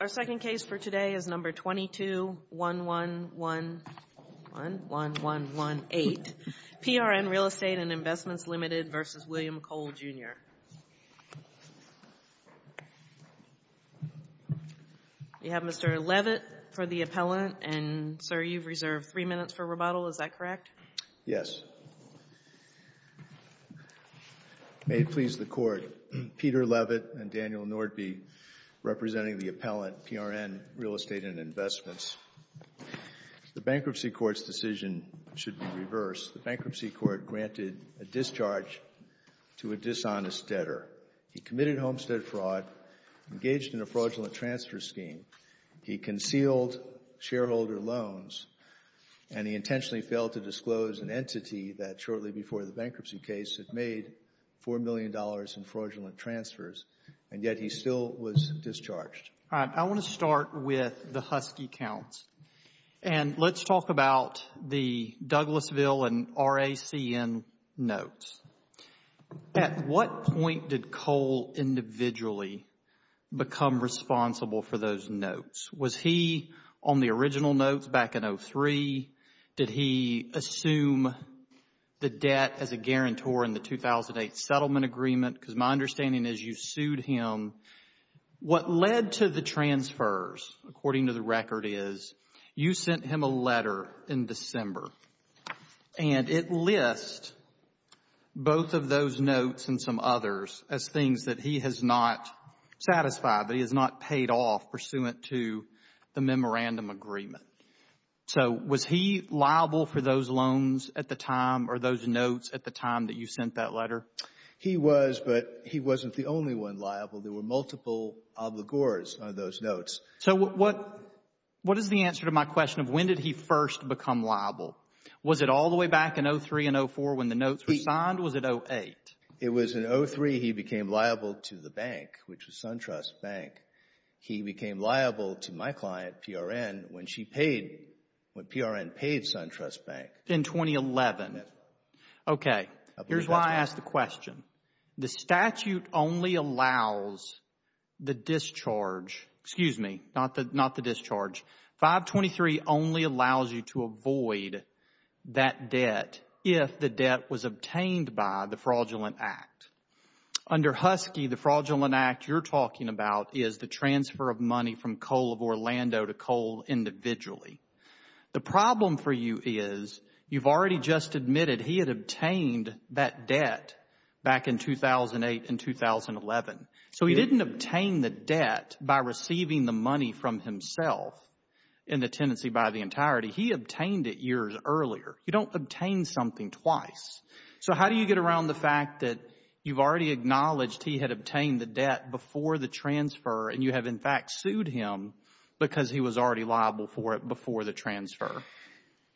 Our second case for today is No. 221111118 PRN Real Estate & Investments, Ltd. v. William You have Mr. Levitt for the appellant, and, sir, you've reserved three minutes for rebuttal, is that correct? Yes. May it please the Court, Peter Levitt and Daniel Nordby representing the appellant PRN Real Estate & Investments. The bankruptcy court's decision should be reversed. The bankruptcy court granted a discharge to a dishonest debtor. He committed homestead fraud, engaged in a fraudulent transfer scheme. He concealed shareholder loans, and he intentionally failed to disclose an entity that shortly before the bankruptcy case had made $4 million in fraudulent transfers, and yet he still was discharged. All right. I want to start with the Husky counts, and let's talk about the Douglasville and RACN notes. At what point did Cole individually become responsible for those notes? Was he on the original notes back in 2003? Did he assume the debt as a guarantor in the 2008 settlement agreement? Because my understanding is you sued him. What led to the transfers, according to the record, is you sent him a letter in December, and it lists both of those notes and some others as things that he has not satisfied, that he has not paid off pursuant to the memorandum agreement. So was he liable for those loans at the time or those notes at the time that you sent that letter? He was, but he wasn't the only one liable. There were multiple obligors on those notes. So what is the answer to my question of when did he first become liable? Was it all the way back in 2003 and 2004 when the notes were signed, or was it 2008? It was in 2003 he became liable to the bank, which was SunTrust Bank. He became liable to my client, PRN, when she paid, when PRN paid SunTrust Bank. In 2011. Okay, here's why I asked the question. The statute only allows the discharge, excuse me, not the discharge, 523 only allows you to avoid that debt if the debt was obtained by the fraudulent act. Under Husky, the fraudulent act you're talking about is the transfer of money from Coal of Orlando to Coal individually. The problem for you is you've already just admitted he had obtained that debt back in 2008 and 2011. So he didn't obtain the debt by receiving the money from himself in the tenancy by the entirety. He obtained it years earlier. You don't obtain something twice. So how do you get around the fact that you've already acknowledged he had obtained the debt before the transfer, and you have, in fact, sued him because he was already liable for it before the transfer?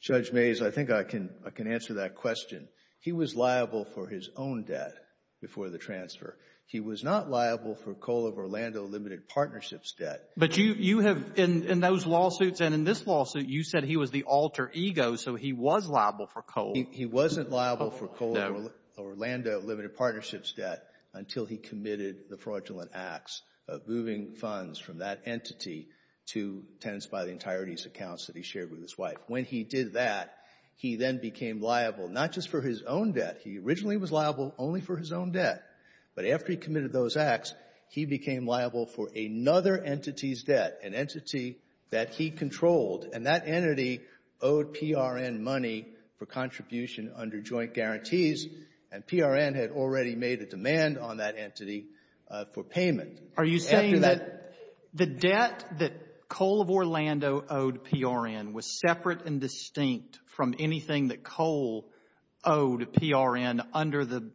Judge Mays, I think I can answer that question. He was liable for his own debt before the transfer. He was not liable for Coal of Orlando Limited Partnerships debt. But you have, in those lawsuits and in this lawsuit, you said he was the alter ego, so he was liable for Coal. He wasn't liable for Coal of Orlando Limited Partnerships debt until he committed the fraudulent acts of moving funds from that entity to tenants by the entirety's accounts that he shared with his wife. When he did that, he then became liable not just for his own debt. He originally was liable only for his own debt. But after he committed those acts, he became liable for another entity's debt, an entity that he controlled. And that entity owed PRN money for contribution under joint guarantees, and PRN had already made a demand on that entity for payment. Are you saying that the debt that Coal of Orlando owed PRN was separate and distinct from anything that Coal owed PRN under the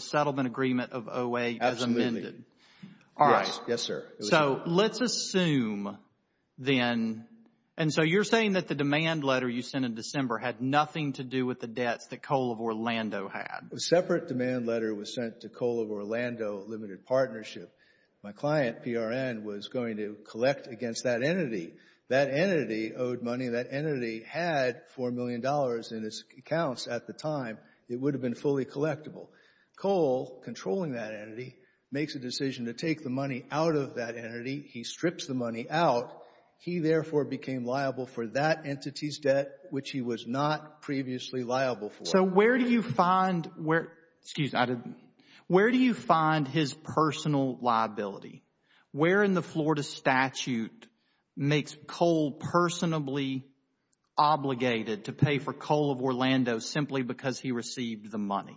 settlement agreement of OA? Absolutely. All right. Yes, sir. So let's assume then, and so you're saying that the demand letter you sent in December had nothing to do with the debts that Coal of Orlando had. A separate demand letter was sent to Coal of Orlando Limited Partnership. My client, PRN, was going to collect against that entity. That entity owed money. That entity had $4 million in its accounts at the time. It would have been fully collectible. Coal, controlling that entity, makes a decision to take the money out of that entity. He strips the money out. He therefore became liable for that entity's debt, which he was not previously liable for. So where do you find his personal liability? Where in the Florida statute makes Coal personably obligated to pay for Coal of Orlando simply because he received the money?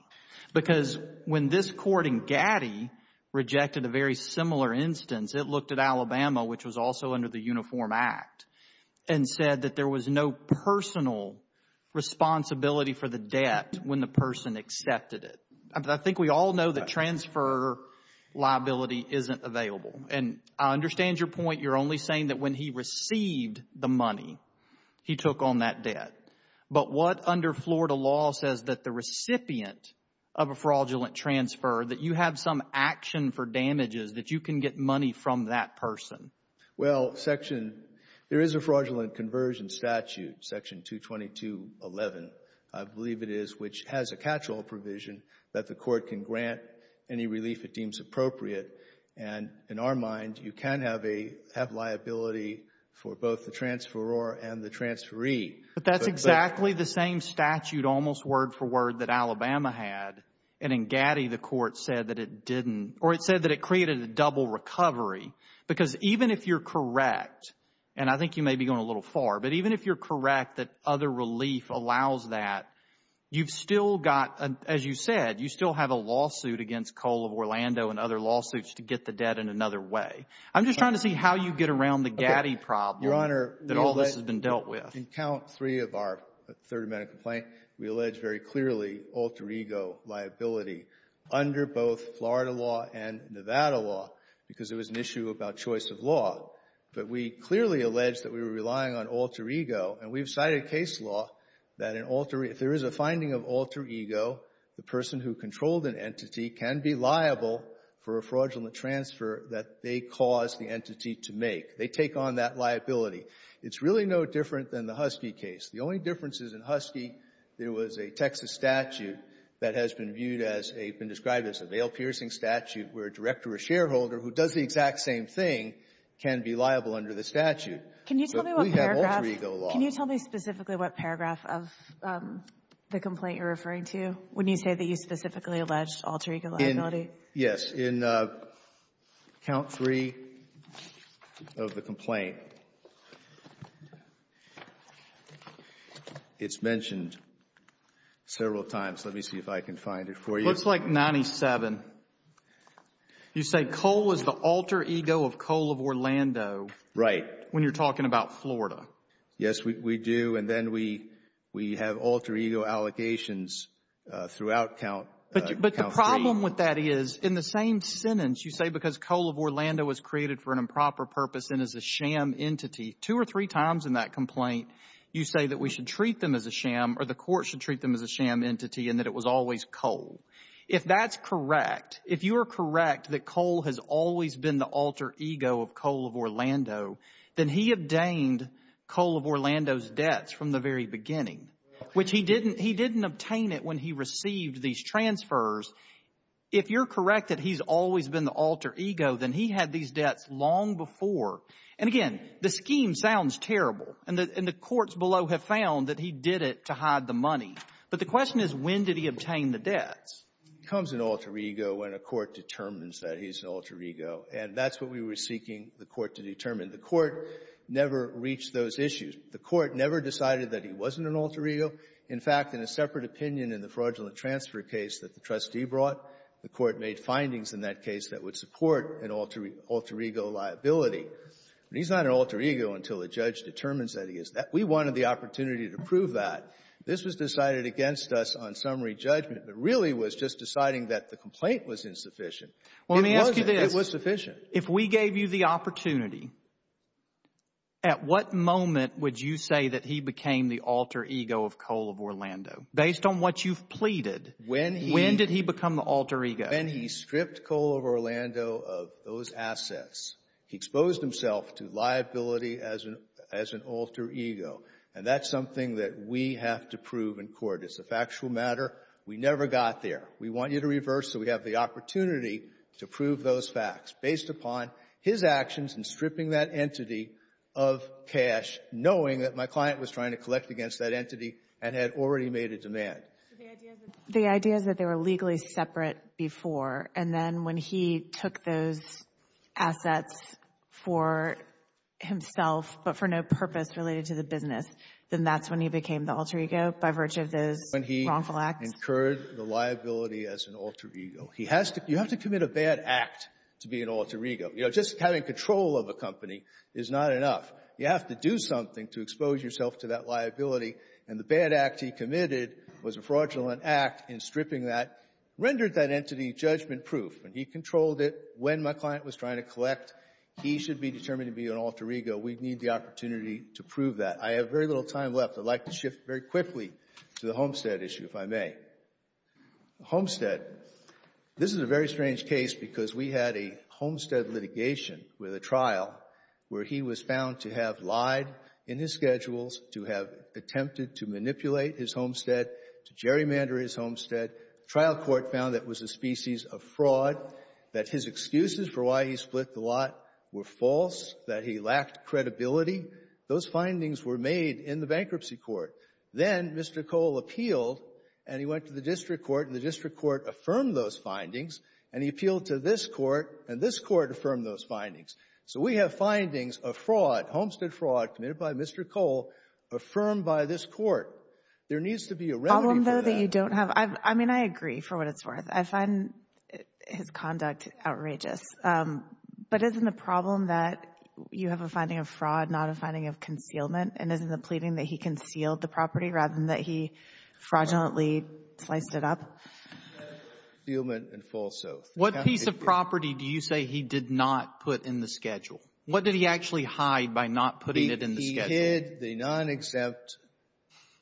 Because when this court in Gaddy rejected a very similar instance, it looked at Alabama, which was also under the Uniform Act, and said that there was no personal responsibility for the debt when the person accepted it. I think we all know that transfer liability isn't available. And I understand your point. You're only saying that when he received the money, he took on that debt. But what under Florida law says that the recipient of a fraudulent transfer, that you have some action for damages, that you can get money from that person? Well, section, there is a fraudulent conversion statute, Section 222.11, I believe it is, which has a catch-all provision that the court can grant any relief it deems appropriate. And in our mind, you can have liability for both the transferor and the transferee. But that's exactly the same statute, almost word for word, that Alabama had. And in Gaddy, the court said that it didn't, or it said that it created a double recovery. Because even if you're correct, and I think you may be going a little far, but even if you're correct that other relief allows that, you've still got, as you said, you still have a lawsuit against Coal of Orlando and other lawsuits to get the debt in another way. I'm just trying to see how you get around the Gaddy problem that all this has been dealt with. In count three of our third amendment complaint, we allege very clearly alter ego liability under both Florida law and Nevada law, because it was an issue about choice of law. But we clearly allege that we were relying on alter ego, and we've cited case law that if there is a finding of alter ego, the person who controlled an entity can be liable for a fraudulent transfer that they caused the entity to make. They take on that liability. It's really no different than the Husky case. The only difference is in Husky, there was a Texas statute that has been viewed as a, been described as a veil-piercing statute where a director or shareholder who does the exact same thing can be liable under the statute. But we have alter ego law. Can you tell me specifically what paragraph of the complaint you're referring to when you say that you specifically allege alter ego liability? Yes. In count three of the complaint, it's mentioned several times. Let me see if I can find it for you. Looks like 97. You say Cole is the alter ego of Cole of Orlando. Right. When you're talking about Florida. Yes, we do. And then we have alter ego allegations throughout count three. In the same sentence, you say because Cole of Orlando was created for an improper purpose and is a sham entity. Two or three times in that complaint, you say that we should treat them as a sham or the court should treat them as a sham entity and that it was always Cole. If that's correct, if you are correct that Cole has always been the alter ego of Cole of Orlando, then he obtained Cole of Orlando's debts from the very beginning, which he didn't obtain it when he received these transfers. If you're correct that he's always been the alter ego, then he had these debts long before. And again, the scheme sounds terrible, and the courts below have found that he did it to hide the money. But the question is, when did he obtain the debts? He becomes an alter ego when a court determines that he's an alter ego. And that's what we were seeking the court to determine. The court never reached those issues. The court never decided that he wasn't an alter ego. In fact, in a separate opinion in the fraudulent transfer case that the trustee brought, the court made findings in that case that would support an alter ego liability. But he's not an alter ego until a judge determines that he is. We wanted the opportunity to prove that. This was decided against us on summary judgment, but really was just deciding that the complaint was insufficient. It wasn't. It was sufficient. If we gave you the opportunity, at what moment would you say that he became the alter ego of Cole of Orlando? Based on what you've pleaded, when did he become the alter ego? When he stripped Cole of Orlando of those assets. He exposed himself to liability as an alter ego. And that's something that we have to prove in court. It's a factual matter. We never got there. We want you to reverse so we have the opportunity to prove those facts based upon his actions in stripping that entity of cash, knowing that my client was trying to collect against that entity and had already made a demand. The idea is that they were legally separate before. And then when he took those assets for himself but for no purpose related to the business, then that's when he became the alter ego by virtue of those wrongful acts? When he incurred the liability as an alter ego. He has to — you have to commit a bad act to be an alter ego. You know, just having control of a company is not enough. You have to do something to expose yourself to that liability. And the bad act he committed was a fraudulent act in stripping that, rendered that entity judgment-proof. And he controlled it when my client was trying to collect. He should be determined to be an alter ego. We need the opportunity to prove that. I have very little time left. I'd like to shift very quickly to the Homestead issue, if I may. Homestead. This is a very strange case because we had a Homestead litigation with a trial where he was found to have lied in his schedules, to have attempted to manipulate his Homestead, to gerrymander his Homestead. The trial court found that was a species of fraud, that his excuses for why he split the lot were false, that he lacked credibility. Those findings were made in the bankruptcy court. Then Mr. Cole appealed, and he went to the district court. And the district court affirmed those findings. And he appealed to this court, and this court affirmed those findings. So we have findings of fraud, Homestead fraud, committed by Mr. Cole, affirmed by this court. There needs to be a remedy for that. The problem, though, that you don't have — I mean, I agree for what it's worth. I find his conduct outrageous. But isn't the problem that you have a finding of fraud, not a finding of concealment? And isn't the pleading that he concealed the property rather than that he fraudulently sliced it up? Concealment and false oath. What piece of property do you say he did not put in the schedule? What did he actually hide by not putting it in the schedule? He hid the non-exempt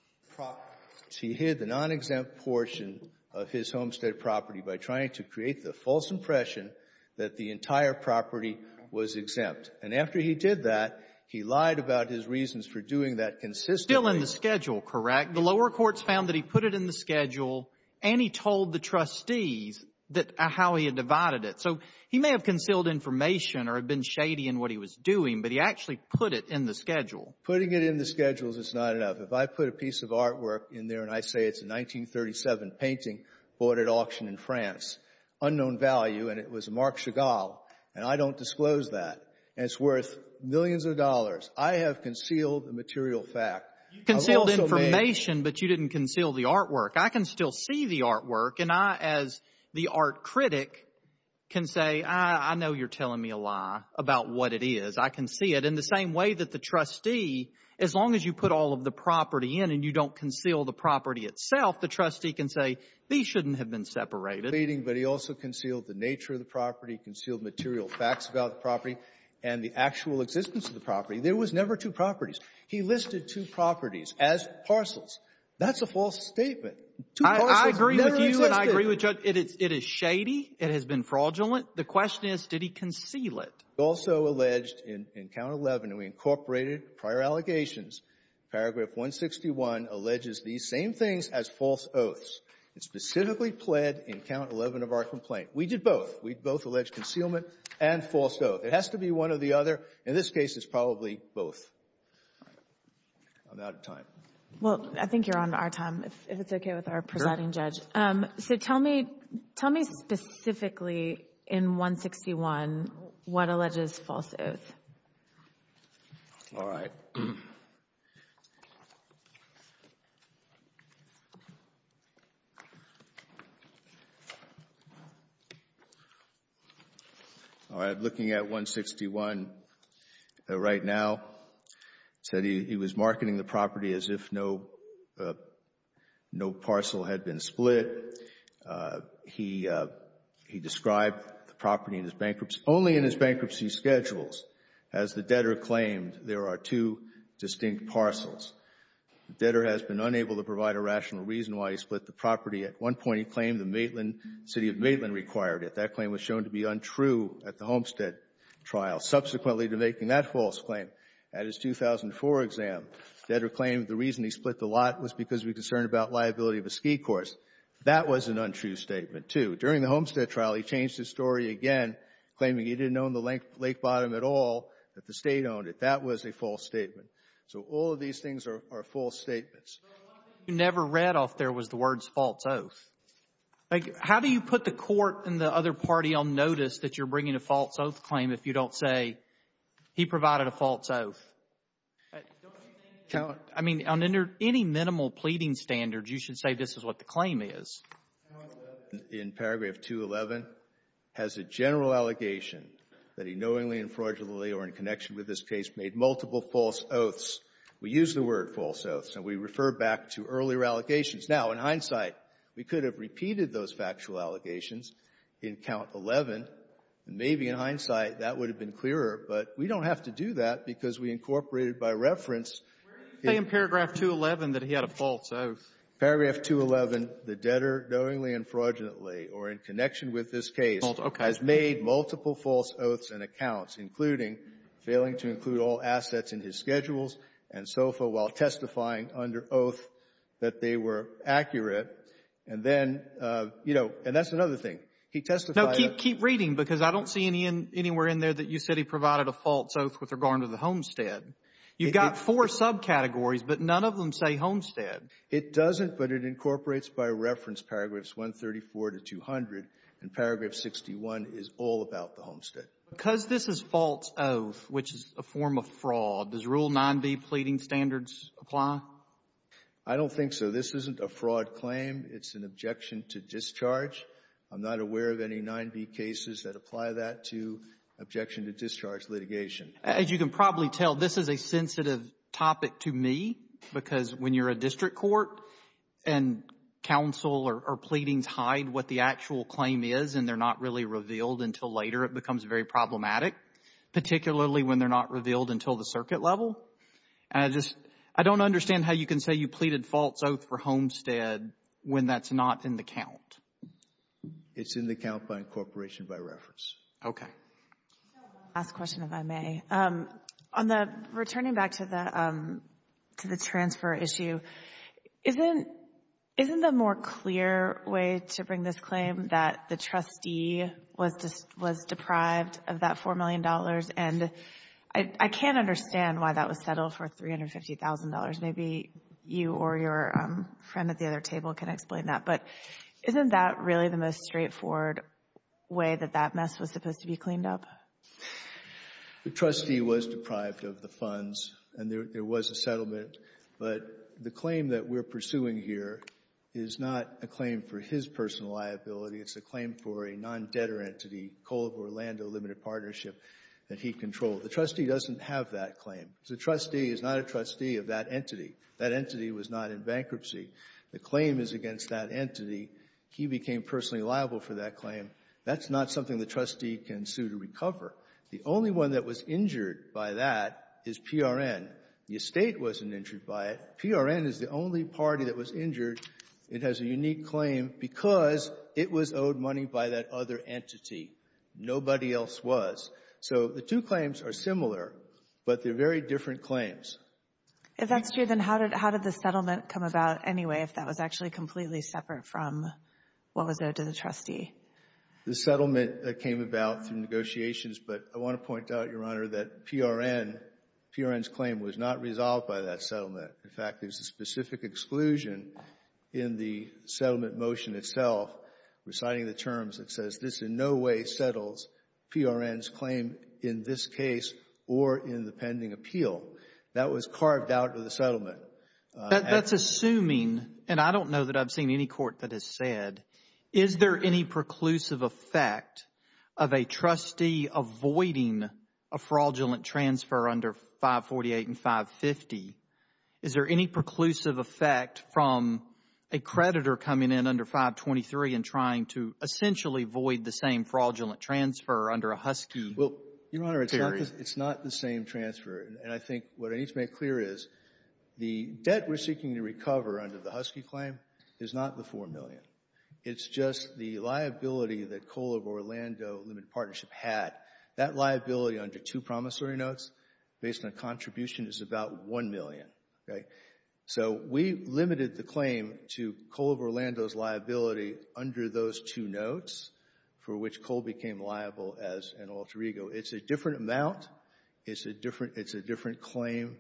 — he hid the non-exempt portion of his homestead property by trying to create the false impression that the entire property was exempt. And after he did that, he lied about his reasons for doing that consistently. Still in the schedule, correct? The lower courts found that he put it in the schedule, and he told the trustees how he had divided it. So he may have concealed information or had been shady in what he was doing, but he actually put it in the schedule. Putting it in the schedule is not enough. If I put a piece of artwork in there, and I say it's a 1937 painting bought at auction in France, unknown value, and it was a Marc Chagall, and I don't disclose that, and it's worth millions of dollars, I have concealed the material fact. You concealed information, but you didn't conceal the artwork. I can still see the artwork, and I, as the art critic, can say, I know you're telling me a lie about what it is. I can see it. In the same way that the trustee, as long as you put all of the property in and you don't conceal the property itself, the trustee can say, these shouldn't have been separated. — painting, but he also concealed the nature of the property, concealed material facts about the property, and the actual existence of the property. There was never two properties. He listed two properties as parcels. That's a false statement. — I agree with you, and I agree with Judge. It is shady. It has been fraudulent. The question is, did he conceal it? — also alleged in Count 11, and we incorporated prior allegations. Paragraph 161 alleges these same things as false oaths. It specifically pled in Count 11 of our complaint. We did both. We both alleged concealment and false oath. It has to be one or the other. In this case, it's probably both. I'm out of time. — Well, I think you're on our time, if it's okay with our presiding judge. So tell me specifically in 161 what alleges false oath. — All right. All right, looking at 161 right now, said he was marketing the property as if no parcel had been split. He described the property in his bankruptcy, only in his bankruptcy schedules, as the debtor claimed there are two distinct parcels. The debtor has been unable to provide a rational reason why he split the property. At one point, he claimed the city of Maitland required it. That claim was shown to be untrue at the Homestead trial. Subsequently to making that false claim, at his 2004 exam, the debtor claimed the reason he split the lot was because he was concerned about liability of a ski course. That was an untrue statement, too. During the Homestead trial, he changed his story again, claiming he didn't own the lake bottom at all, that the State owned it. That was a false statement. So all of these things are false statements. — But one thing you never read off there was the words false oath. How do you put the court and the other party on notice that you're bringing a false oath claim if you don't say he provided a false oath? I mean, on any minimal pleading standard, you should say this is what the claim is. — In paragraph 211, has a general allegation that he knowingly and fraudulently or in connection with this case made multiple false oaths. We use the word false oaths, and we refer back to earlier allegations. Now, in hindsight, we could have repeated those factual allegations in Count 11, and maybe in hindsight, that would have been clearer, but we don't have to do that because we incorporated by reference the —— Where do you say in paragraph 211 that he had a false oath? — Paragraph 211, the debtor knowingly and fraudulently or in connection with this case has made multiple false oaths and accounts, including failing to include all assets in his schedules and SOFA while testifying under oath that they were accurate. And then, you know, and that's another thing. He testified —— No, keep reading because I don't see anywhere in there that you said he provided a false oath with regard to the homestead. You've got four subcategories, but none of them say homestead. — It doesn't, but it incorporates by reference paragraphs 134 to 200, and paragraph 61 is all about the homestead. — Because this is false oath, which is a form of fraud, does Rule 9b pleading standards apply? — I don't think so. This isn't a fraud claim. It's an objection to discharge. I'm not aware of any 9b cases that apply that to objection to discharge litigation. — As you can probably tell, this is a sensitive topic to me because when you're a district court and counsel or pleadings hide what the actual claim is and they're not really revealed until later, it becomes very problematic, particularly when they're not revealed until the circuit level. And I just, I don't understand how you can say you pleaded false oath for homestead when that's not in the count. — It's in the count by incorporation by reference. — Okay. — I have one last question, if I may. On the returning back to the, to the transfer issue, isn't, isn't the more clear way to bring this claim that the trustee was deprived of that $4 million? And I can't understand why that was settled for $350,000. Maybe you or your friend at the other table can explain that. But isn't that really the most straightforward way that that mess was supposed to be cleaned up? — The trustee was deprived of the funds and there was a settlement. But the claim that we're pursuing here is not a claim for his personal liability. It's a claim for a non-debtor entity, Kohl of Orlando Limited Partnership, that he controlled. The trustee doesn't have that claim. The trustee is not a trustee of that entity. That entity was not in bankruptcy. The claim is against that entity. He became personally liable for that claim. That's not something the trustee can sue to recover. The only one that was injured by that is PRN. The estate wasn't injured by it. PRN is the only party that was injured. It has a unique claim because it was owed money by that other entity. Nobody else was. So the two claims are similar, but they're very different claims. — If that's true, then how did the settlement come about anyway, if that was actually completely separate from what was owed to the trustee? — The settlement came about through negotiations, but I want to point out, Your Honor, that PRN's claim was not resolved by that settlement. In fact, there's a specific exclusion in the settlement motion itself, reciting the terms that says this in no way settles PRN's claim in this case or in the pending appeal. That was carved out of the settlement. — That's assuming, and I don't know that I've seen any court that has said, is there any preclusive effect of a trustee avoiding a fraudulent transfer under 548 and 550? Is there any preclusive effect from a creditor coming in under 523 and trying to essentially void the same fraudulent transfer under a Husky? — Well, Your Honor, it's not the same transfer. And I think what I need to make clear is the debt we're seeking to recover under the Husky claim is not the $4 million. It's just the liability that Coal of Orlando Limited Partnership had. That liability under two promissory notes based on a contribution is about $1 million, okay? So we limited the claim to Coal of Orlando's liability under those two notes, for which Coal became liable as an alter ego. It's a different amount. It's a different claim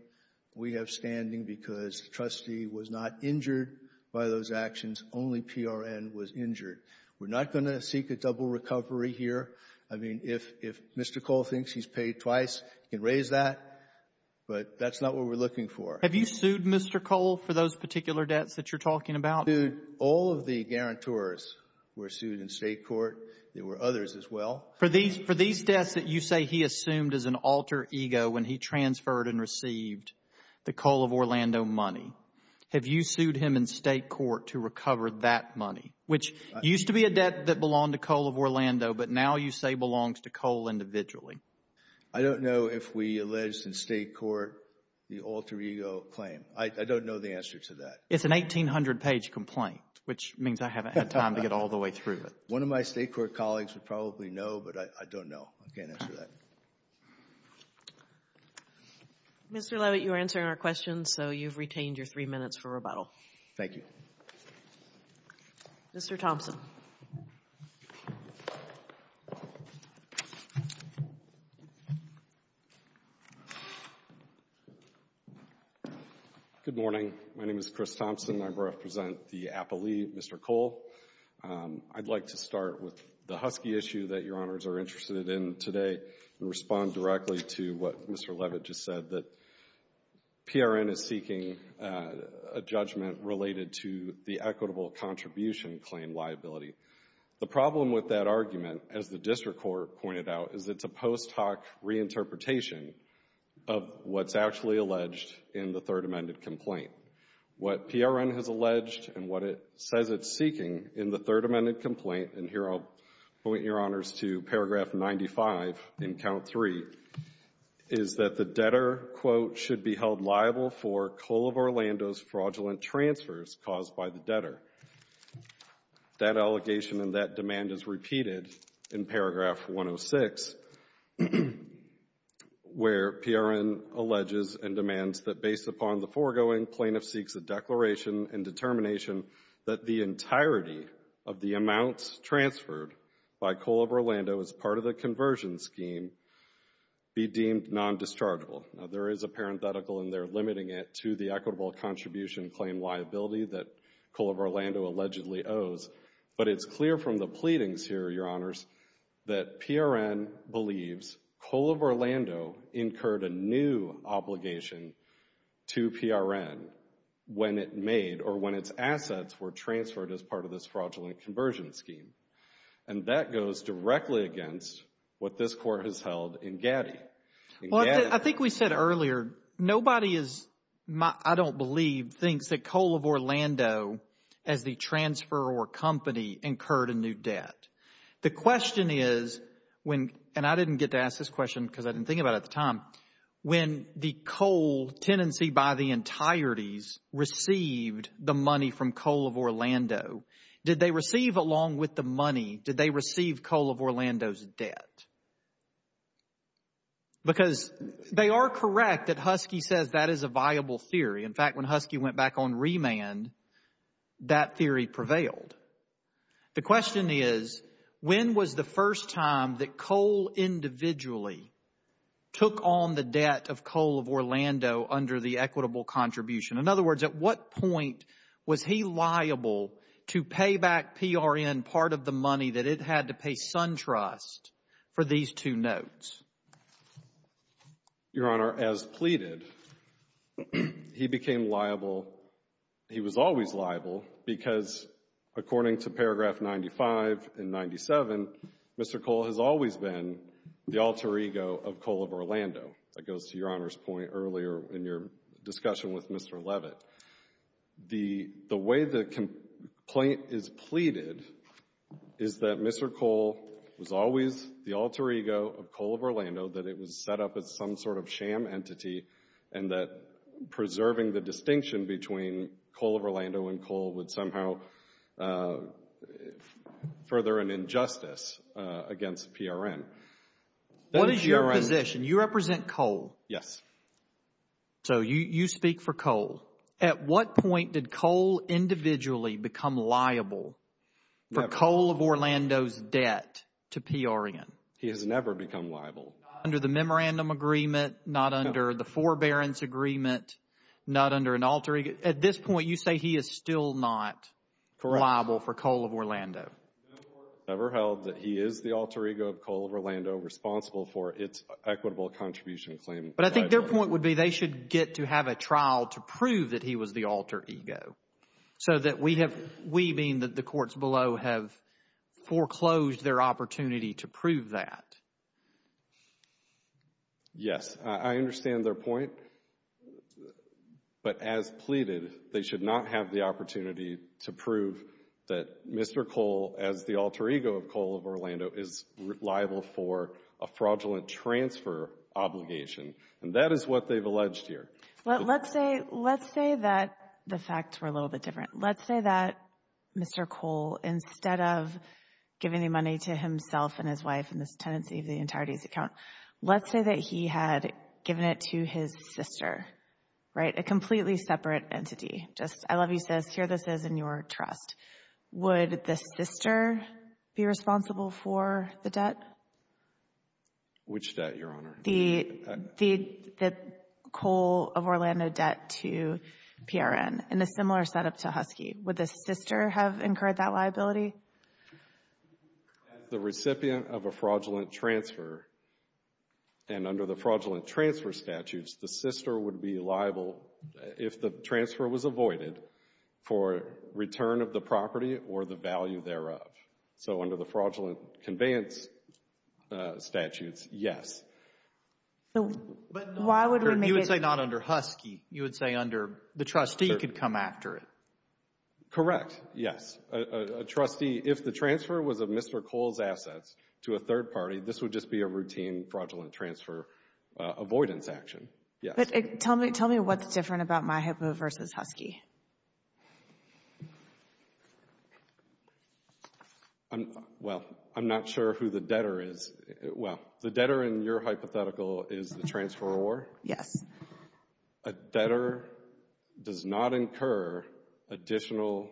we have standing because the trustee was not injured by those actions. Only PRN was injured. We're not going to seek a double recovery here. I mean, if Mr. Coal thinks he's paid twice, he can raise that. But that's not what we're looking for. — Have you sued Mr. Coal for those particular debts that you're talking about? — All of the guarantors were sued in state court. There were others as well. — For these deaths that you say he assumed as an alter ego when he transferred and received the Coal of Orlando money, have you sued him in state court to recover that money, which used to be a debt that belonged to Coal of Orlando, but now you say belongs to Coal individually? — I don't know if we alleged in state court the alter ego claim. I don't know the answer to that. — It's an 1,800-page complaint, which means I haven't had time to get all the way through it. — One of my state court colleagues would probably know, but I don't know. I can't answer that. — Mr. Lovett, you are answering our questions, so you've retained your three minutes for rebuttal. — Thank you. — Mr. Thompson. — Good morning. My name is Chris Thompson. I represent the appellee, Mr. Coal. I'd like to start with the Husky issue that Your Honors are interested in today and respond directly to what Mr. Lovett just said, that PRN is seeking a judgment related to the equitable contribution claim liability. The problem with that argument, as the district court pointed out, is it's a post hoc reinterpretation of what's actually alleged in the Third Amendment complaint. What PRN has alleged and what it says it's seeking in the Third Amendment complaint, and here I'll point Your Honors to paragraph 95 in count three, is that the debtor, quote, should be held liable for Coal of Orlando's fraudulent transfers caused by the debtor. That allegation and that demand is repeated in paragraph 106, where PRN alleges and demands that based upon the foregoing, plaintiff seeks a declaration and determination that the entirety of the amounts transferred by Coal of Orlando as part of the conversion scheme be deemed non-dischargeable. Now there is a parenthetical in there limiting it to the equitable contribution claim liability that Coal of Orlando allegedly owes, but it's clear from the pleadings here, Your Honors, that PRN believes Coal of Orlando incurred a new obligation to PRN when it made or when its assets were transferred as part of this fraudulent conversion scheme, and that goes directly against what this Court has held in Gaddy. Well, I think we said earlier, nobody is, I don't believe, thinks that Coal of Orlando as the transferor company incurred a new debt. The question is when, and I didn't get to ask this question because I didn't think about it at the time, when the coal tenancy by the entireties received the money from Coal of Orlando, did they receive along with the money, did they receive Coal of Orlando's debt? Because they are correct that Husky says that is a viable theory. In fact, when Husky went back on remand, that theory prevailed. The question is when was the first time that Coal individually took on the debt of Coal of Orlando under the equitable contribution? In other words, at what point was he liable to pay back PRN part of the money that it had to pay SunTrust for these two notes? Your Honor, as pleaded, he became liable, he was always liable because according to paragraph 95 and 97, Mr. Cole has always been the alter ego of Coal of Orlando. That goes to Your Honor's point earlier in your discussion with Mr. Levitt. The way the complaint is pleaded is that Mr. Cole was always the alter ego of Coal of Orlando, that it was set up as some sort of sham entity and that preserving the distinction between Coal of Orlando and Coal would somehow further an injustice against PRN. What is your position? You represent Coal. Yes. So you speak for Coal. At what point did Cole individually become liable for Coal of Orlando's debt to PRN? He has never become liable. Under the memorandum agreement, not under the forbearance agreement, not under an alter ego. At this point, you say he is still not liable for Coal of Orlando. Never held that he is the alter ego of Coal of Orlando, responsible for its equitable contribution claim. But I think their point would be they should get to have a trial to prove that he was the alter ego. So that we have, we being that the courts below have foreclosed their opportunity to prove that. Yes, I understand their point. But as pleaded, they should not have the opportunity to prove that Mr. Cole, as the alter ego of Coal of Orlando, is liable for a fraudulent transfer obligation. And that is what they've alleged here. But let's say, let's say that the facts were a little bit different. Let's say that Mr. Cole, instead of giving the money to himself and his wife and this tenancy of the entirety of his account, let's say that he had given it to his sister, right? A completely separate entity. Just, I love you sis, here this is in your trust. Would the sister be responsible for the debt? Which debt, Your Honor? The Coal of Orlando debt to PRN. In a similar setup to Husky. Would the sister have incurred that liability? As the recipient of a fraudulent transfer, and under the fraudulent transfer statutes, the sister would be liable, if the transfer was avoided, for return of the property or the value thereof. So under the fraudulent conveyance statutes, yes. So why would we make it? You would say not under Husky. You would say under the trustee could come after it. Correct, yes. A trustee, if the transfer was of Mr. Cole's assets to a third party, this would just be a routine fraudulent transfer avoidance action, yes. Tell me what's different about MyHippo versus Husky. Well, I'm not sure who the debtor is. Well, the debtor in your hypothetical is the transferor. Yes. A debtor does not incur additional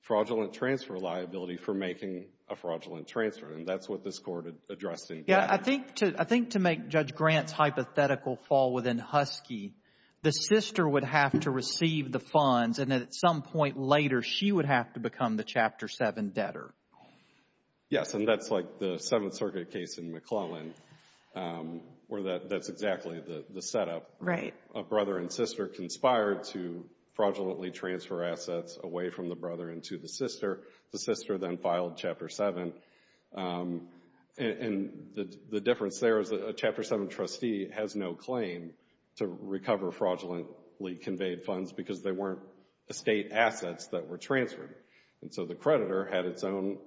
fraudulent transfer liability for making a fraudulent transfer, and that's what this court addressed in cash. Yeah, I think to make Judge Grant's hypothetical fall within Husky, the sister would have to receive the funds, and at some point later, she would have to become the Chapter 7 debtor. Yes, and that's like the Seventh Circuit case in McClellan where that's exactly the setup. Right. A brother and sister conspired to fraudulently transfer assets away from the brother into the sister. The sister then filed Chapter 7, and the difference there is a Chapter 7 trustee has no claim to recover fraudulently conveyed funds because they weren't estate assets that were transferred, and so the creditor had its own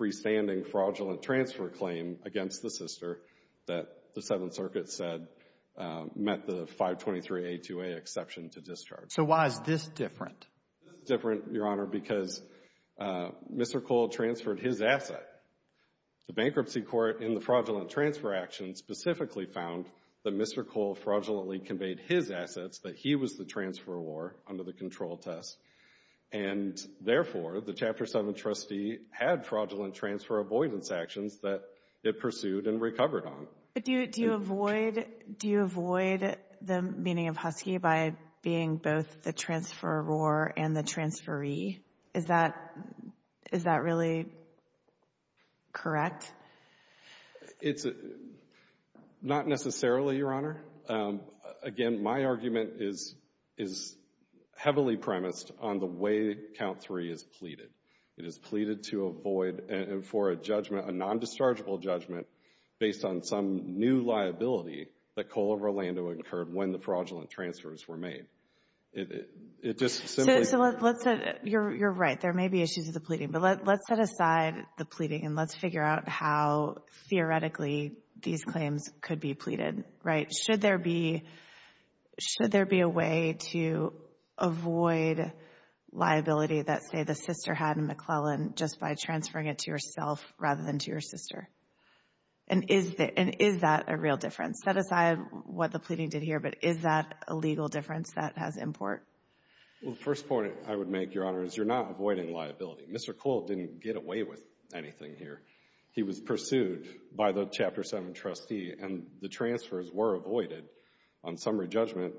freestanding fraudulent transfer claim against the sister that the Seventh Circuit said met the 523A2A exception to discharge. So why is this different? This is different, Your Honor, because Mr. Cole transferred his asset. The bankruptcy court in the fraudulent transfer action specifically found that Mr. Cole fraudulently conveyed his assets, that he was the transferor under the control test, and therefore the Chapter 7 trustee had fraudulent transfer avoidance actions that it pursued and recovered on. But do you avoid the meaning of husky by being both the transferor and the transferee? Is that really correct? It's not necessarily, Your Honor. Again, my argument is heavily premised on the way Count 3 is pleaded. It is pleaded to avoid, and for a judgment, a non-dischargeable judgment based on some new liability that Cole of Orlando incurred when the fraudulent transfers were made. It just simply... So let's say, you're right, there may be issues with the pleading, but let's set aside the pleading and let's figure out how theoretically these claims could be pleaded, right? Should there be a way to avoid liability that, say, the sister had in McClellan just by transferring it to yourself rather than to your sister? And is that a real difference? Set aside what the pleading did here, but is that a legal difference that has import? Well, the first point I would make, Your Honor, is you're not avoiding liability. Mr. Cole didn't get away with anything here. He was pursued by the Chapter 7 trustee and the transfers were avoided. On summary judgment,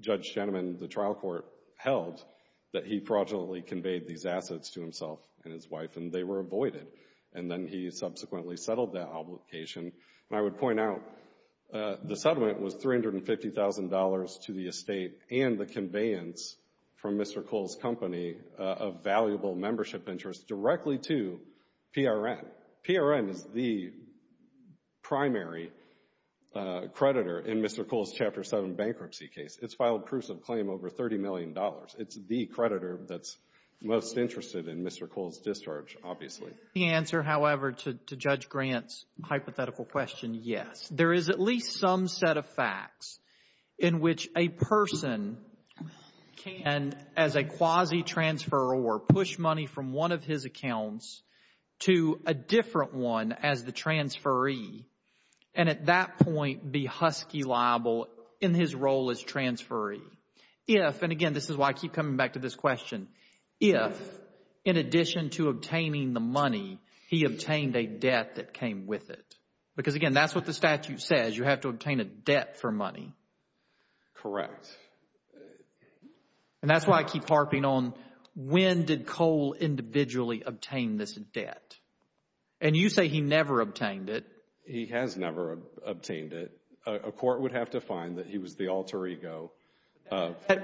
Judge Shenneman, the trial court, held that he fraudulently conveyed these assets to himself and his wife and they were avoided. And then he subsequently settled that obligation. And I would point out, the settlement was $350,000 to the estate and the conveyance from Mr. Cole's company of valuable membership interest directly to PRN. PRN is the primary creditor in Mr. Cole's Chapter 7 bankruptcy case. It's filed proofs of claim over $30 million. It's the creditor that's most interested in Mr. Cole's discharge, obviously. The answer, however, to Judge Grant's hypothetical question, yes. There is at least some set of facts in which a person can, as a quasi-transfer or push money from one of his accounts to a different one as the transferee and at that point be Husky liable in his role as transferee. If, and again, this is why I keep coming back to this question. If, in addition to obtaining the money, he obtained a debt that came with it. Because again, that's what the statute says. You have to obtain a debt for money. Correct. And that's why I keep harping on when did Cole individually obtain this debt? And you say he never obtained it. He has never obtained it. A court would have to find that he was the alter ego.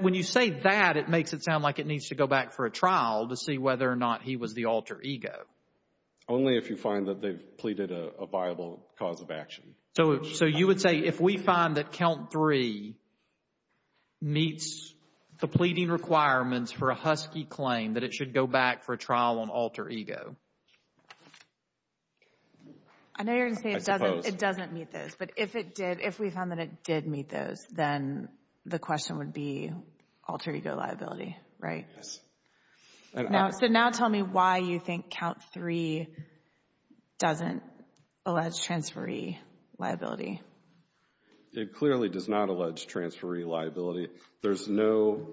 When you say that, it makes it sound like it needs to go back for a trial to see whether or not he was the alter ego. Only if you find that they've pleaded a viable cause of action. So you would say if we find that Count 3 meets the pleading requirements for a Husky claim that it should go back for a trial on alter ego. I know you're going to say it doesn't meet those. But if it did, if we found that it did meet those, then the question would be alter ego liability. Right? So now tell me why you think Count 3 doesn't allege transferee liability. It clearly does not allege transferee liability. There's no,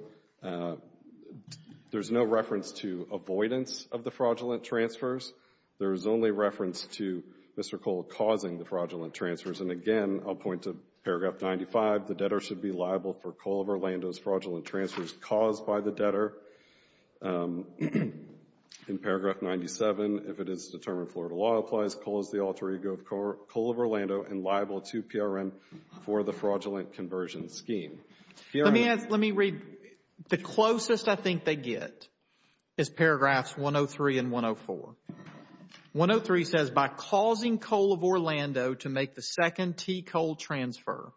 there's no reference to avoidance of the fraudulent transfers. There is only reference to Mr. Cole causing the fraudulent transfers. And again, I'll point to paragraph 95. The debtor should be liable for Cole of Orlando's fraudulent transfers caused by the debtor. In paragraph 97, if it is determined Florida law applies, Cole is the alter ego of Cole of Orlando and liable to PRM for the fraudulent conversion scheme. Let me read, the closest I think they get is paragraphs 103 and 104. 103 says by causing Cole of Orlando to make the second T. Cole transfer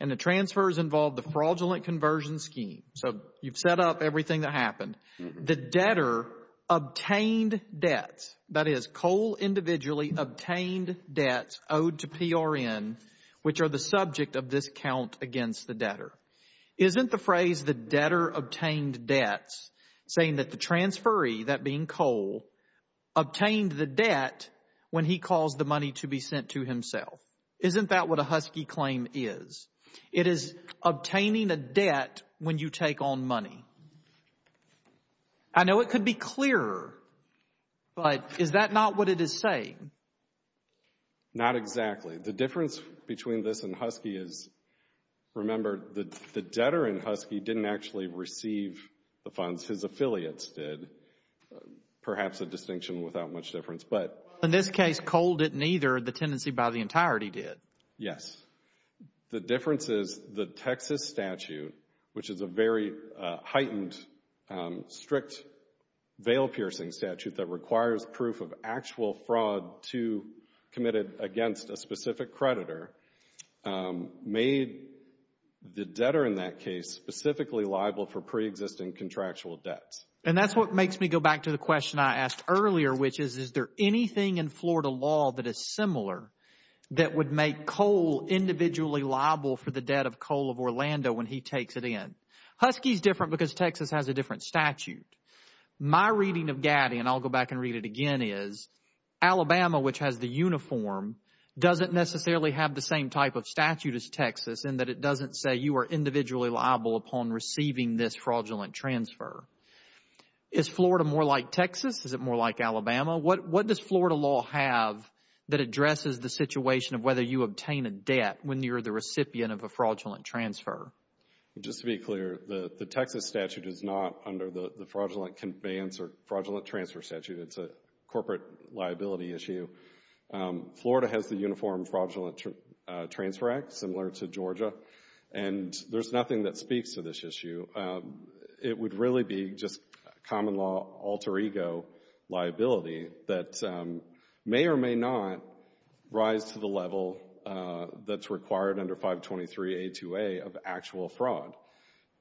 and the transfers involved the fraudulent conversion scheme. So you've set up everything that happened. The debtor obtained debts, that is Cole individually obtained debts owed to PRN, which are the subject of this count against the debtor. Isn't the phrase the debtor obtained debts saying that the transferee, that being Cole, obtained the debt when he caused the money to be sent to himself. Isn't that what a Husky claim is? It is obtaining a debt when you take on money. I know it could be clearer, but is that not what it is saying? Not exactly. The difference between this and Husky is, remember, the debtor in Husky didn't actually receive the funds. His affiliates did. Perhaps a distinction without much difference. But in this case, Cole didn't either. The tenancy by the entirety did. Yes. The difference is the Texas statute, which is a very heightened, strict, veil-piercing statute that requires proof of actual fraud to committed against a specific creditor, made the debtor in that case specifically liable for pre-existing contractual debts. And that's what makes me go back to the question I asked earlier, which is, is there anything in Florida law that is similar that would make Cole individually liable for the debt of Cole of Orlando when he takes it in? Husky's different because Texas has a different statute. My reading of Gatti, and I'll go back and read it again, is Alabama, which has the uniform, doesn't necessarily have the same type of statute as Texas in that it doesn't say you are individually liable upon receiving this fraudulent transfer. Is Florida more like Texas? Is it more like Alabama? What does Florida law have that addresses the situation of whether you obtain a debt when you're the recipient of a fraudulent transfer? Just to be clear, the Texas statute is not under the fraudulent conveyance or fraudulent transfer statute. It's a corporate liability issue. Florida has the uniform fraudulent transfer act, similar to Georgia, and there's nothing that speaks to this issue. It would really be just common law alter ego liability that may or may not rise to the level that's required under 523A2A of actual fraud.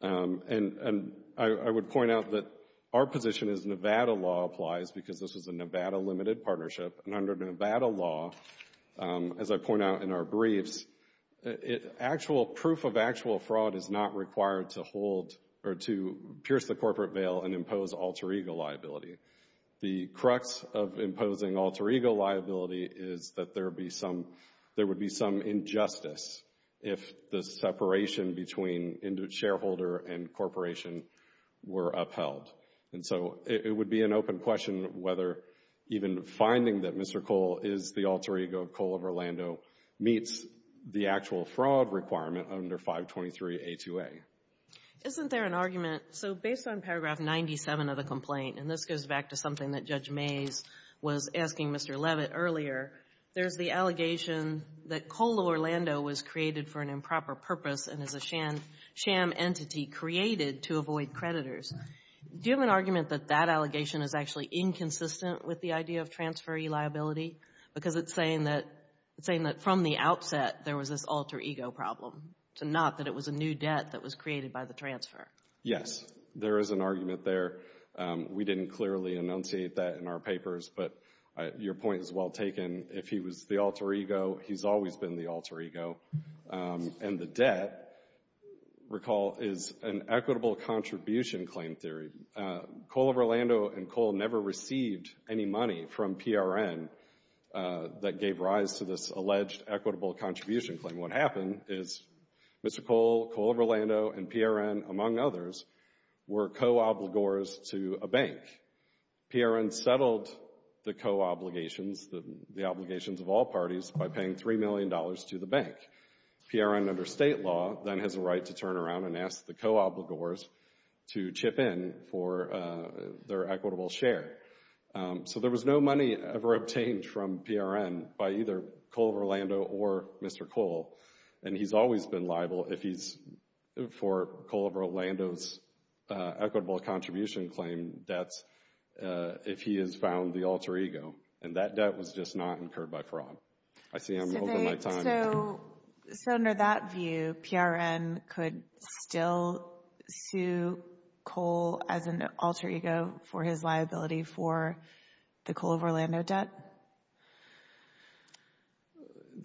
And I would point out that our position is Nevada law applies because this is a Nevada limited partnership, and under Nevada law, as I point out in our briefs, proof of actual fraud is not required to hold or to pierce the corporate veil and impose alter ego liability. The crux of imposing alter ego liability is that there would be some injustice if the separation between shareholder and corporation were upheld. And so it would be an open question whether even finding that Mr. Cole is the alter ego Cole of Orlando meets the actual fraud requirement under 523A2A. Isn't there an argument, so based on paragraph 97 of the complaint, and this goes back to something that Judge Mays was asking Mr. Levitt earlier, there's the allegation that Cole of Orlando was created for an improper purpose and is a sham entity created to avoid creditors. Do you have an argument that that allegation is actually inconsistent with the idea of transferee liability? Because it's saying that from the outset there was this alter ego problem, to not that it was a new debt that was created by the transfer. Yes, there is an argument there. We didn't clearly enunciate that in our papers, but your point is well taken. If he was the alter ego, he's always been the alter ego. And the debt, recall, is an equitable contribution claim theory. Cole of Orlando and Cole never received any money from PRN that gave rise to this alleged equitable contribution claim. What happened is Mr. Cole, Cole of Orlando and PRN, among others, were co-obligors to a bank. PRN settled the co-obligations, the obligations of all parties, by paying $3 million to the bank. PRN under state law then has a right to turn around and ask the co-obligors to chip in for their equitable share. So there was no money ever obtained from PRN by either Cole of Orlando or Mr. Cole. And he's always been liable if he's for Cole of Orlando's equitable contribution claim debt if he has found the alter ego. And that debt was just not incurred by fraud. I see I'm over my time. So under that view, PRN could still sue Cole as an alter ego for his liability for the Cole of Orlando debt?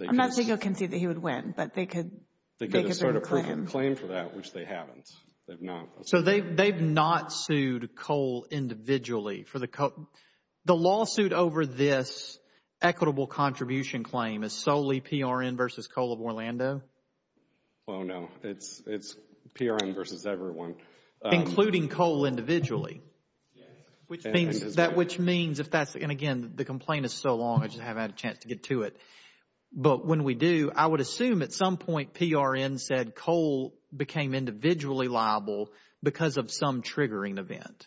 I'm not saying you can see that he would win, but they could. They could start a proof of claim for that, which they haven't. They've not. So they've not sued Cole individually for the, the lawsuit over this equitable contribution claim is solely PRN versus Cole of Orlando? Well, no, it's PRN versus everyone. Including Cole individually. That which means if that's and again, the complaint is so long, I just haven't had a chance to get to it. But when we do, I would assume at some point PRN said Cole became individually liable because of some triggering event.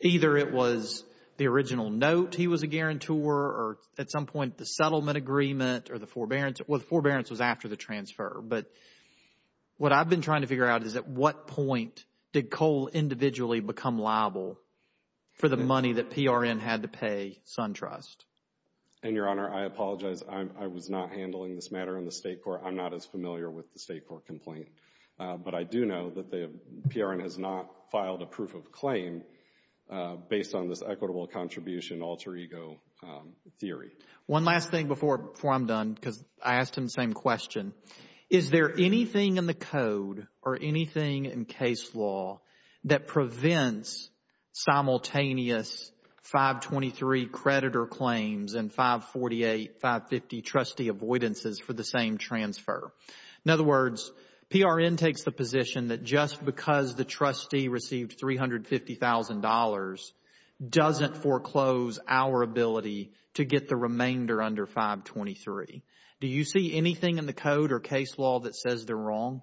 Either it was the original note he was a guarantor or at some point the settlement agreement or the forbearance or the forbearance was after the transfer. But what I've been trying to figure out is at what point did Cole individually become liable for the money that PRN had to pay SunTrust? And Your Honor, I apologize. I was not handling this matter in the state court. I'm not as familiar with the state court complaint. But I do know that the PRN has not filed a proof of claim based on this equitable contribution alter ego theory. One last thing before I'm done because I asked him the same question. Is there anything in the code or anything in case law that prevents simultaneous 523 creditor claims and 548, 550 trustee avoidances for the same transfer? In other words, PRN takes the position that just because the trustee received $350,000 doesn't foreclose our ability to get the remainder under 523. Do you see anything in the code or case law that says they're wrong?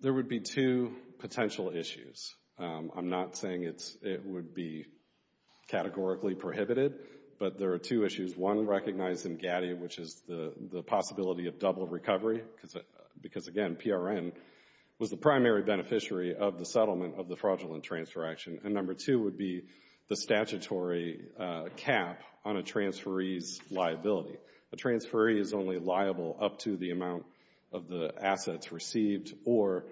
There would be two potential issues. I'm not saying it would be categorically prohibited, but there are two issues. One, recognized in GATI, which is the possibility of double recovery because, again, PRN was the primary beneficiary of the settlement of the fraudulent transfer action. And number two would be the statutory cap on a transferee's liability. A transferee is only liable up to the amount of the assets received or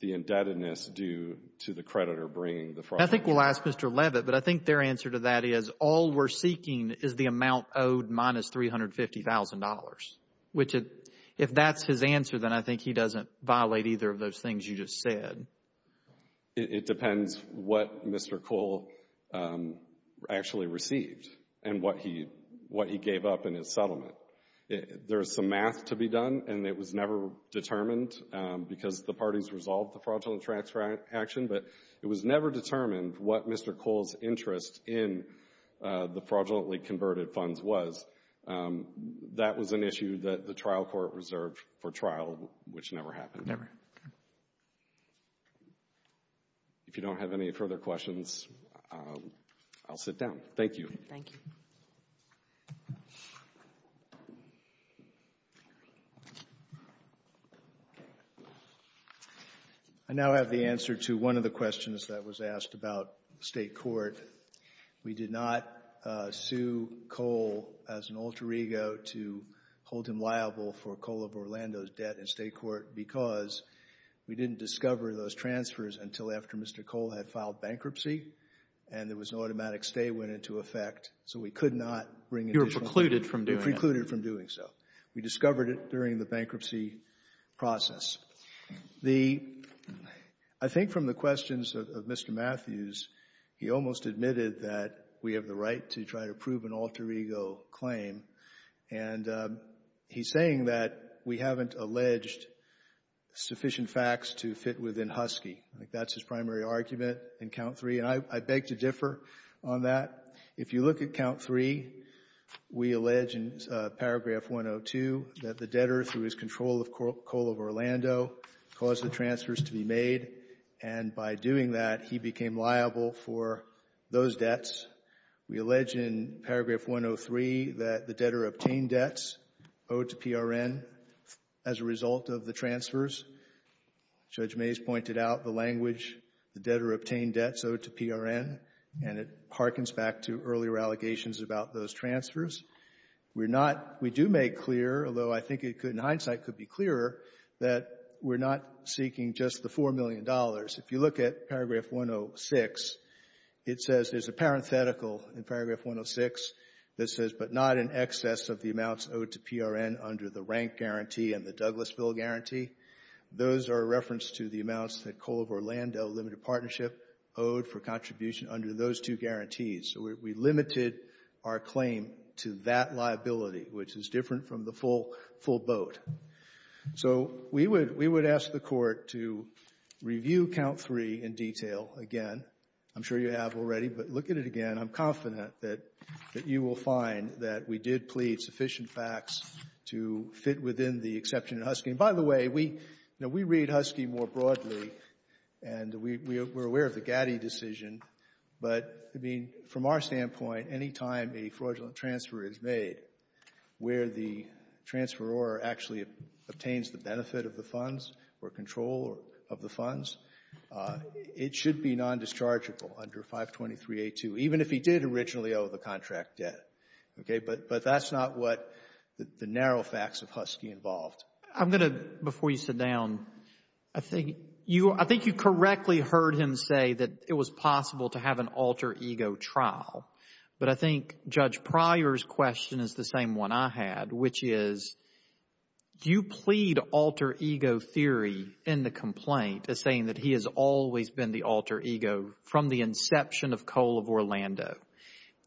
the indebtedness due to the creditor bringing the fraud. I think we'll ask Mr. Levitt, but I think their answer to that is all we're seeking is the amount owed minus $350,000, which if that's his answer, then I think he doesn't violate either of those things you just said. It depends what Mr. Cole actually received and what he gave up in his settlement. There's some math to be done and it was never determined because the parties resolved the fraudulent transfer action, but it was never determined what Mr. Cole's interest in the fraudulently converted funds was. That was an issue that the trial court reserved for trial, which never happened. Never. If you don't have any further questions, I'll sit down. Thank you. Thank you. I now have the answer to one of the questions that was asked about state court. We did not sue Cole as an alter ego to hold him liable for Cole of Orlando's debt in state court because we didn't discover those transfers until after Mr. Cole had filed bankruptcy and there was an automatic stay went into effect, so we could not bring it. You were precluded from doing it. We were precluded from doing so. We discovered it during the bankruptcy process. I think from the questions of Mr. Matthews, he almost admitted that we have the right to try to prove an alter ego claim, and he's saying that we haven't alleged sufficient facts to fit within Husky. I think that's his primary argument in count three, and I beg to differ on that. If you look at count three, we allege in paragraph 102 that the debtor, through his control of Cole of Orlando, caused the transfers to be made, and by doing that, he became liable for those debts. We allege in paragraph 103 that the debtor obtained debts owed to PRN as a result of the transfers. Judge Mays pointed out the language, the debtor obtained debts owed to PRN, and it hearkens back to earlier allegations about those transfers. We do make clear, although I think in hindsight it could be clearer, that we're not seeking just the $4 million. If you look at paragraph 106, it says there's a parenthetical in paragraph 106 that says, but not in excess of the amounts owed to PRN under the rank guarantee and the Douglasville guarantee. Those are referenced to the amounts that Cole of Orlando Limited Partnership owed for contribution under those two guarantees. So we limited our claim to that liability, which is different from the full boat. So we would ask the Court to review count three in detail again. I'm sure you have already, but look at it again. I'm confident that you will find that we did plead sufficient facts to fit within the exception in Husky. By the way, we read Husky more broadly, and we're aware of the Gatti decision, but, I mean, from our standpoint, any time a fraudulent transfer is made where the transferor actually obtains the benefit of the funds or control of the funds, it should be non-dischargeable under 523A2, even if he did originally owe the contract debt. Okay, but that's not what the narrow facts of Husky involved. I'm going to, before you sit down, I think you correctly heard him say that it was possible to have an alter ego trial, but I think Judge Pryor's question is the same one I had, which is, do you plead alter ego theory in the complaint as saying that he has always been the alter ego from the inception of Coal of Orlando?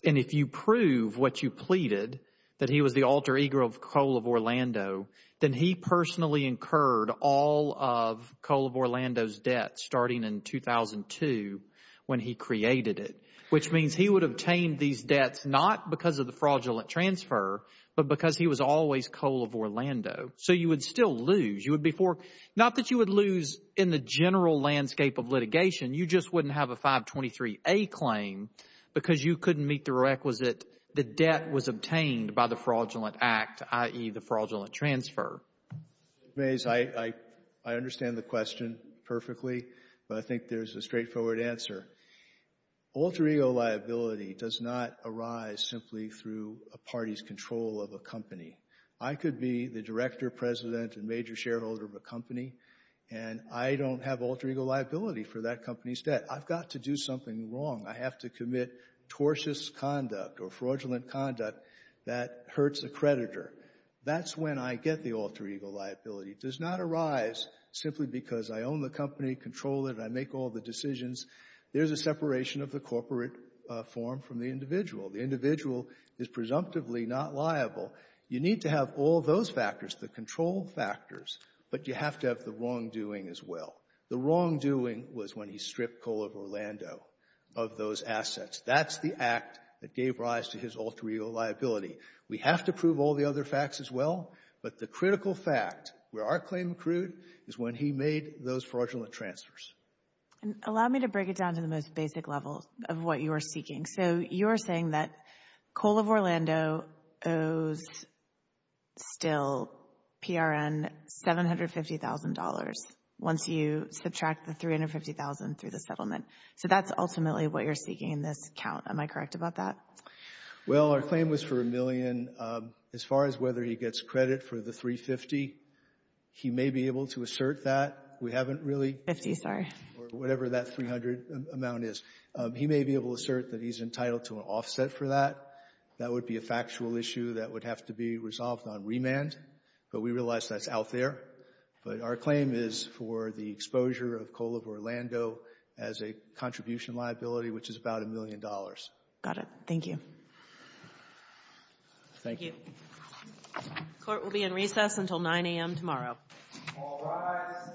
And if you prove what you pleaded, that he was the alter ego of Coal of Orlando, then he personally incurred all of Coal of Orlando's debt starting in 2002 when he created it, which means he would obtain these debts not because of the fraudulent transfer, but because he was always Coal of Orlando. So you would still lose, you would be for, not that you would lose in the general landscape of litigation, you just wouldn't have a 523A claim because you couldn't meet the requisite the debt was obtained by the fraudulent act, i.e. the fraudulent transfer. Mr. Mays, I understand the question perfectly, but I think there's a straightforward answer. Alter ego liability does not arise simply through a party's control of a company. I could be the director, president, and major shareholder of a company, and I don't have alter ego liability for that company's debt. I've got to do something wrong. I have to commit tortuous conduct or fraudulent conduct that hurts a creditor. That's when I get the alter ego liability. It does not arise simply because I own the company, control it, and I make all the decisions. There's a separation of the corporate form from the individual. The individual is presumptively not liable. You need to have all those factors, the control factors, but you have to have the wrongdoing as well. The wrongdoing was when he stripped Coal of Orlando of those assets. That's the act that gave rise to his alter ego liability. We have to prove all the other facts as well, but the critical fact where our claim accrued is when he made those fraudulent transfers. And allow me to break it down to the most basic level of what you are seeking. So you're saying that Coal of Orlando owes still PRN $750,000 once you subtract the $350,000 through the settlement. So that's ultimately what you're seeking in this count. Am I correct about that? Well, our claim was for a million. As far as whether he gets credit for the $350,000, he may be able to assert that. We haven't really. $50,000, sorry. Or whatever that $300,000 amount is. He may be able to assert that he's entitled to an offset for that. That would be a factual issue that would have to be resolved on remand. But we realize that's out there. But our claim is for the exposure of Coal of Orlando as a contribution liability, which is about a million dollars. Got it. Thank you. Thank you. Court will be in recess until 9 a.m. tomorrow. All rise.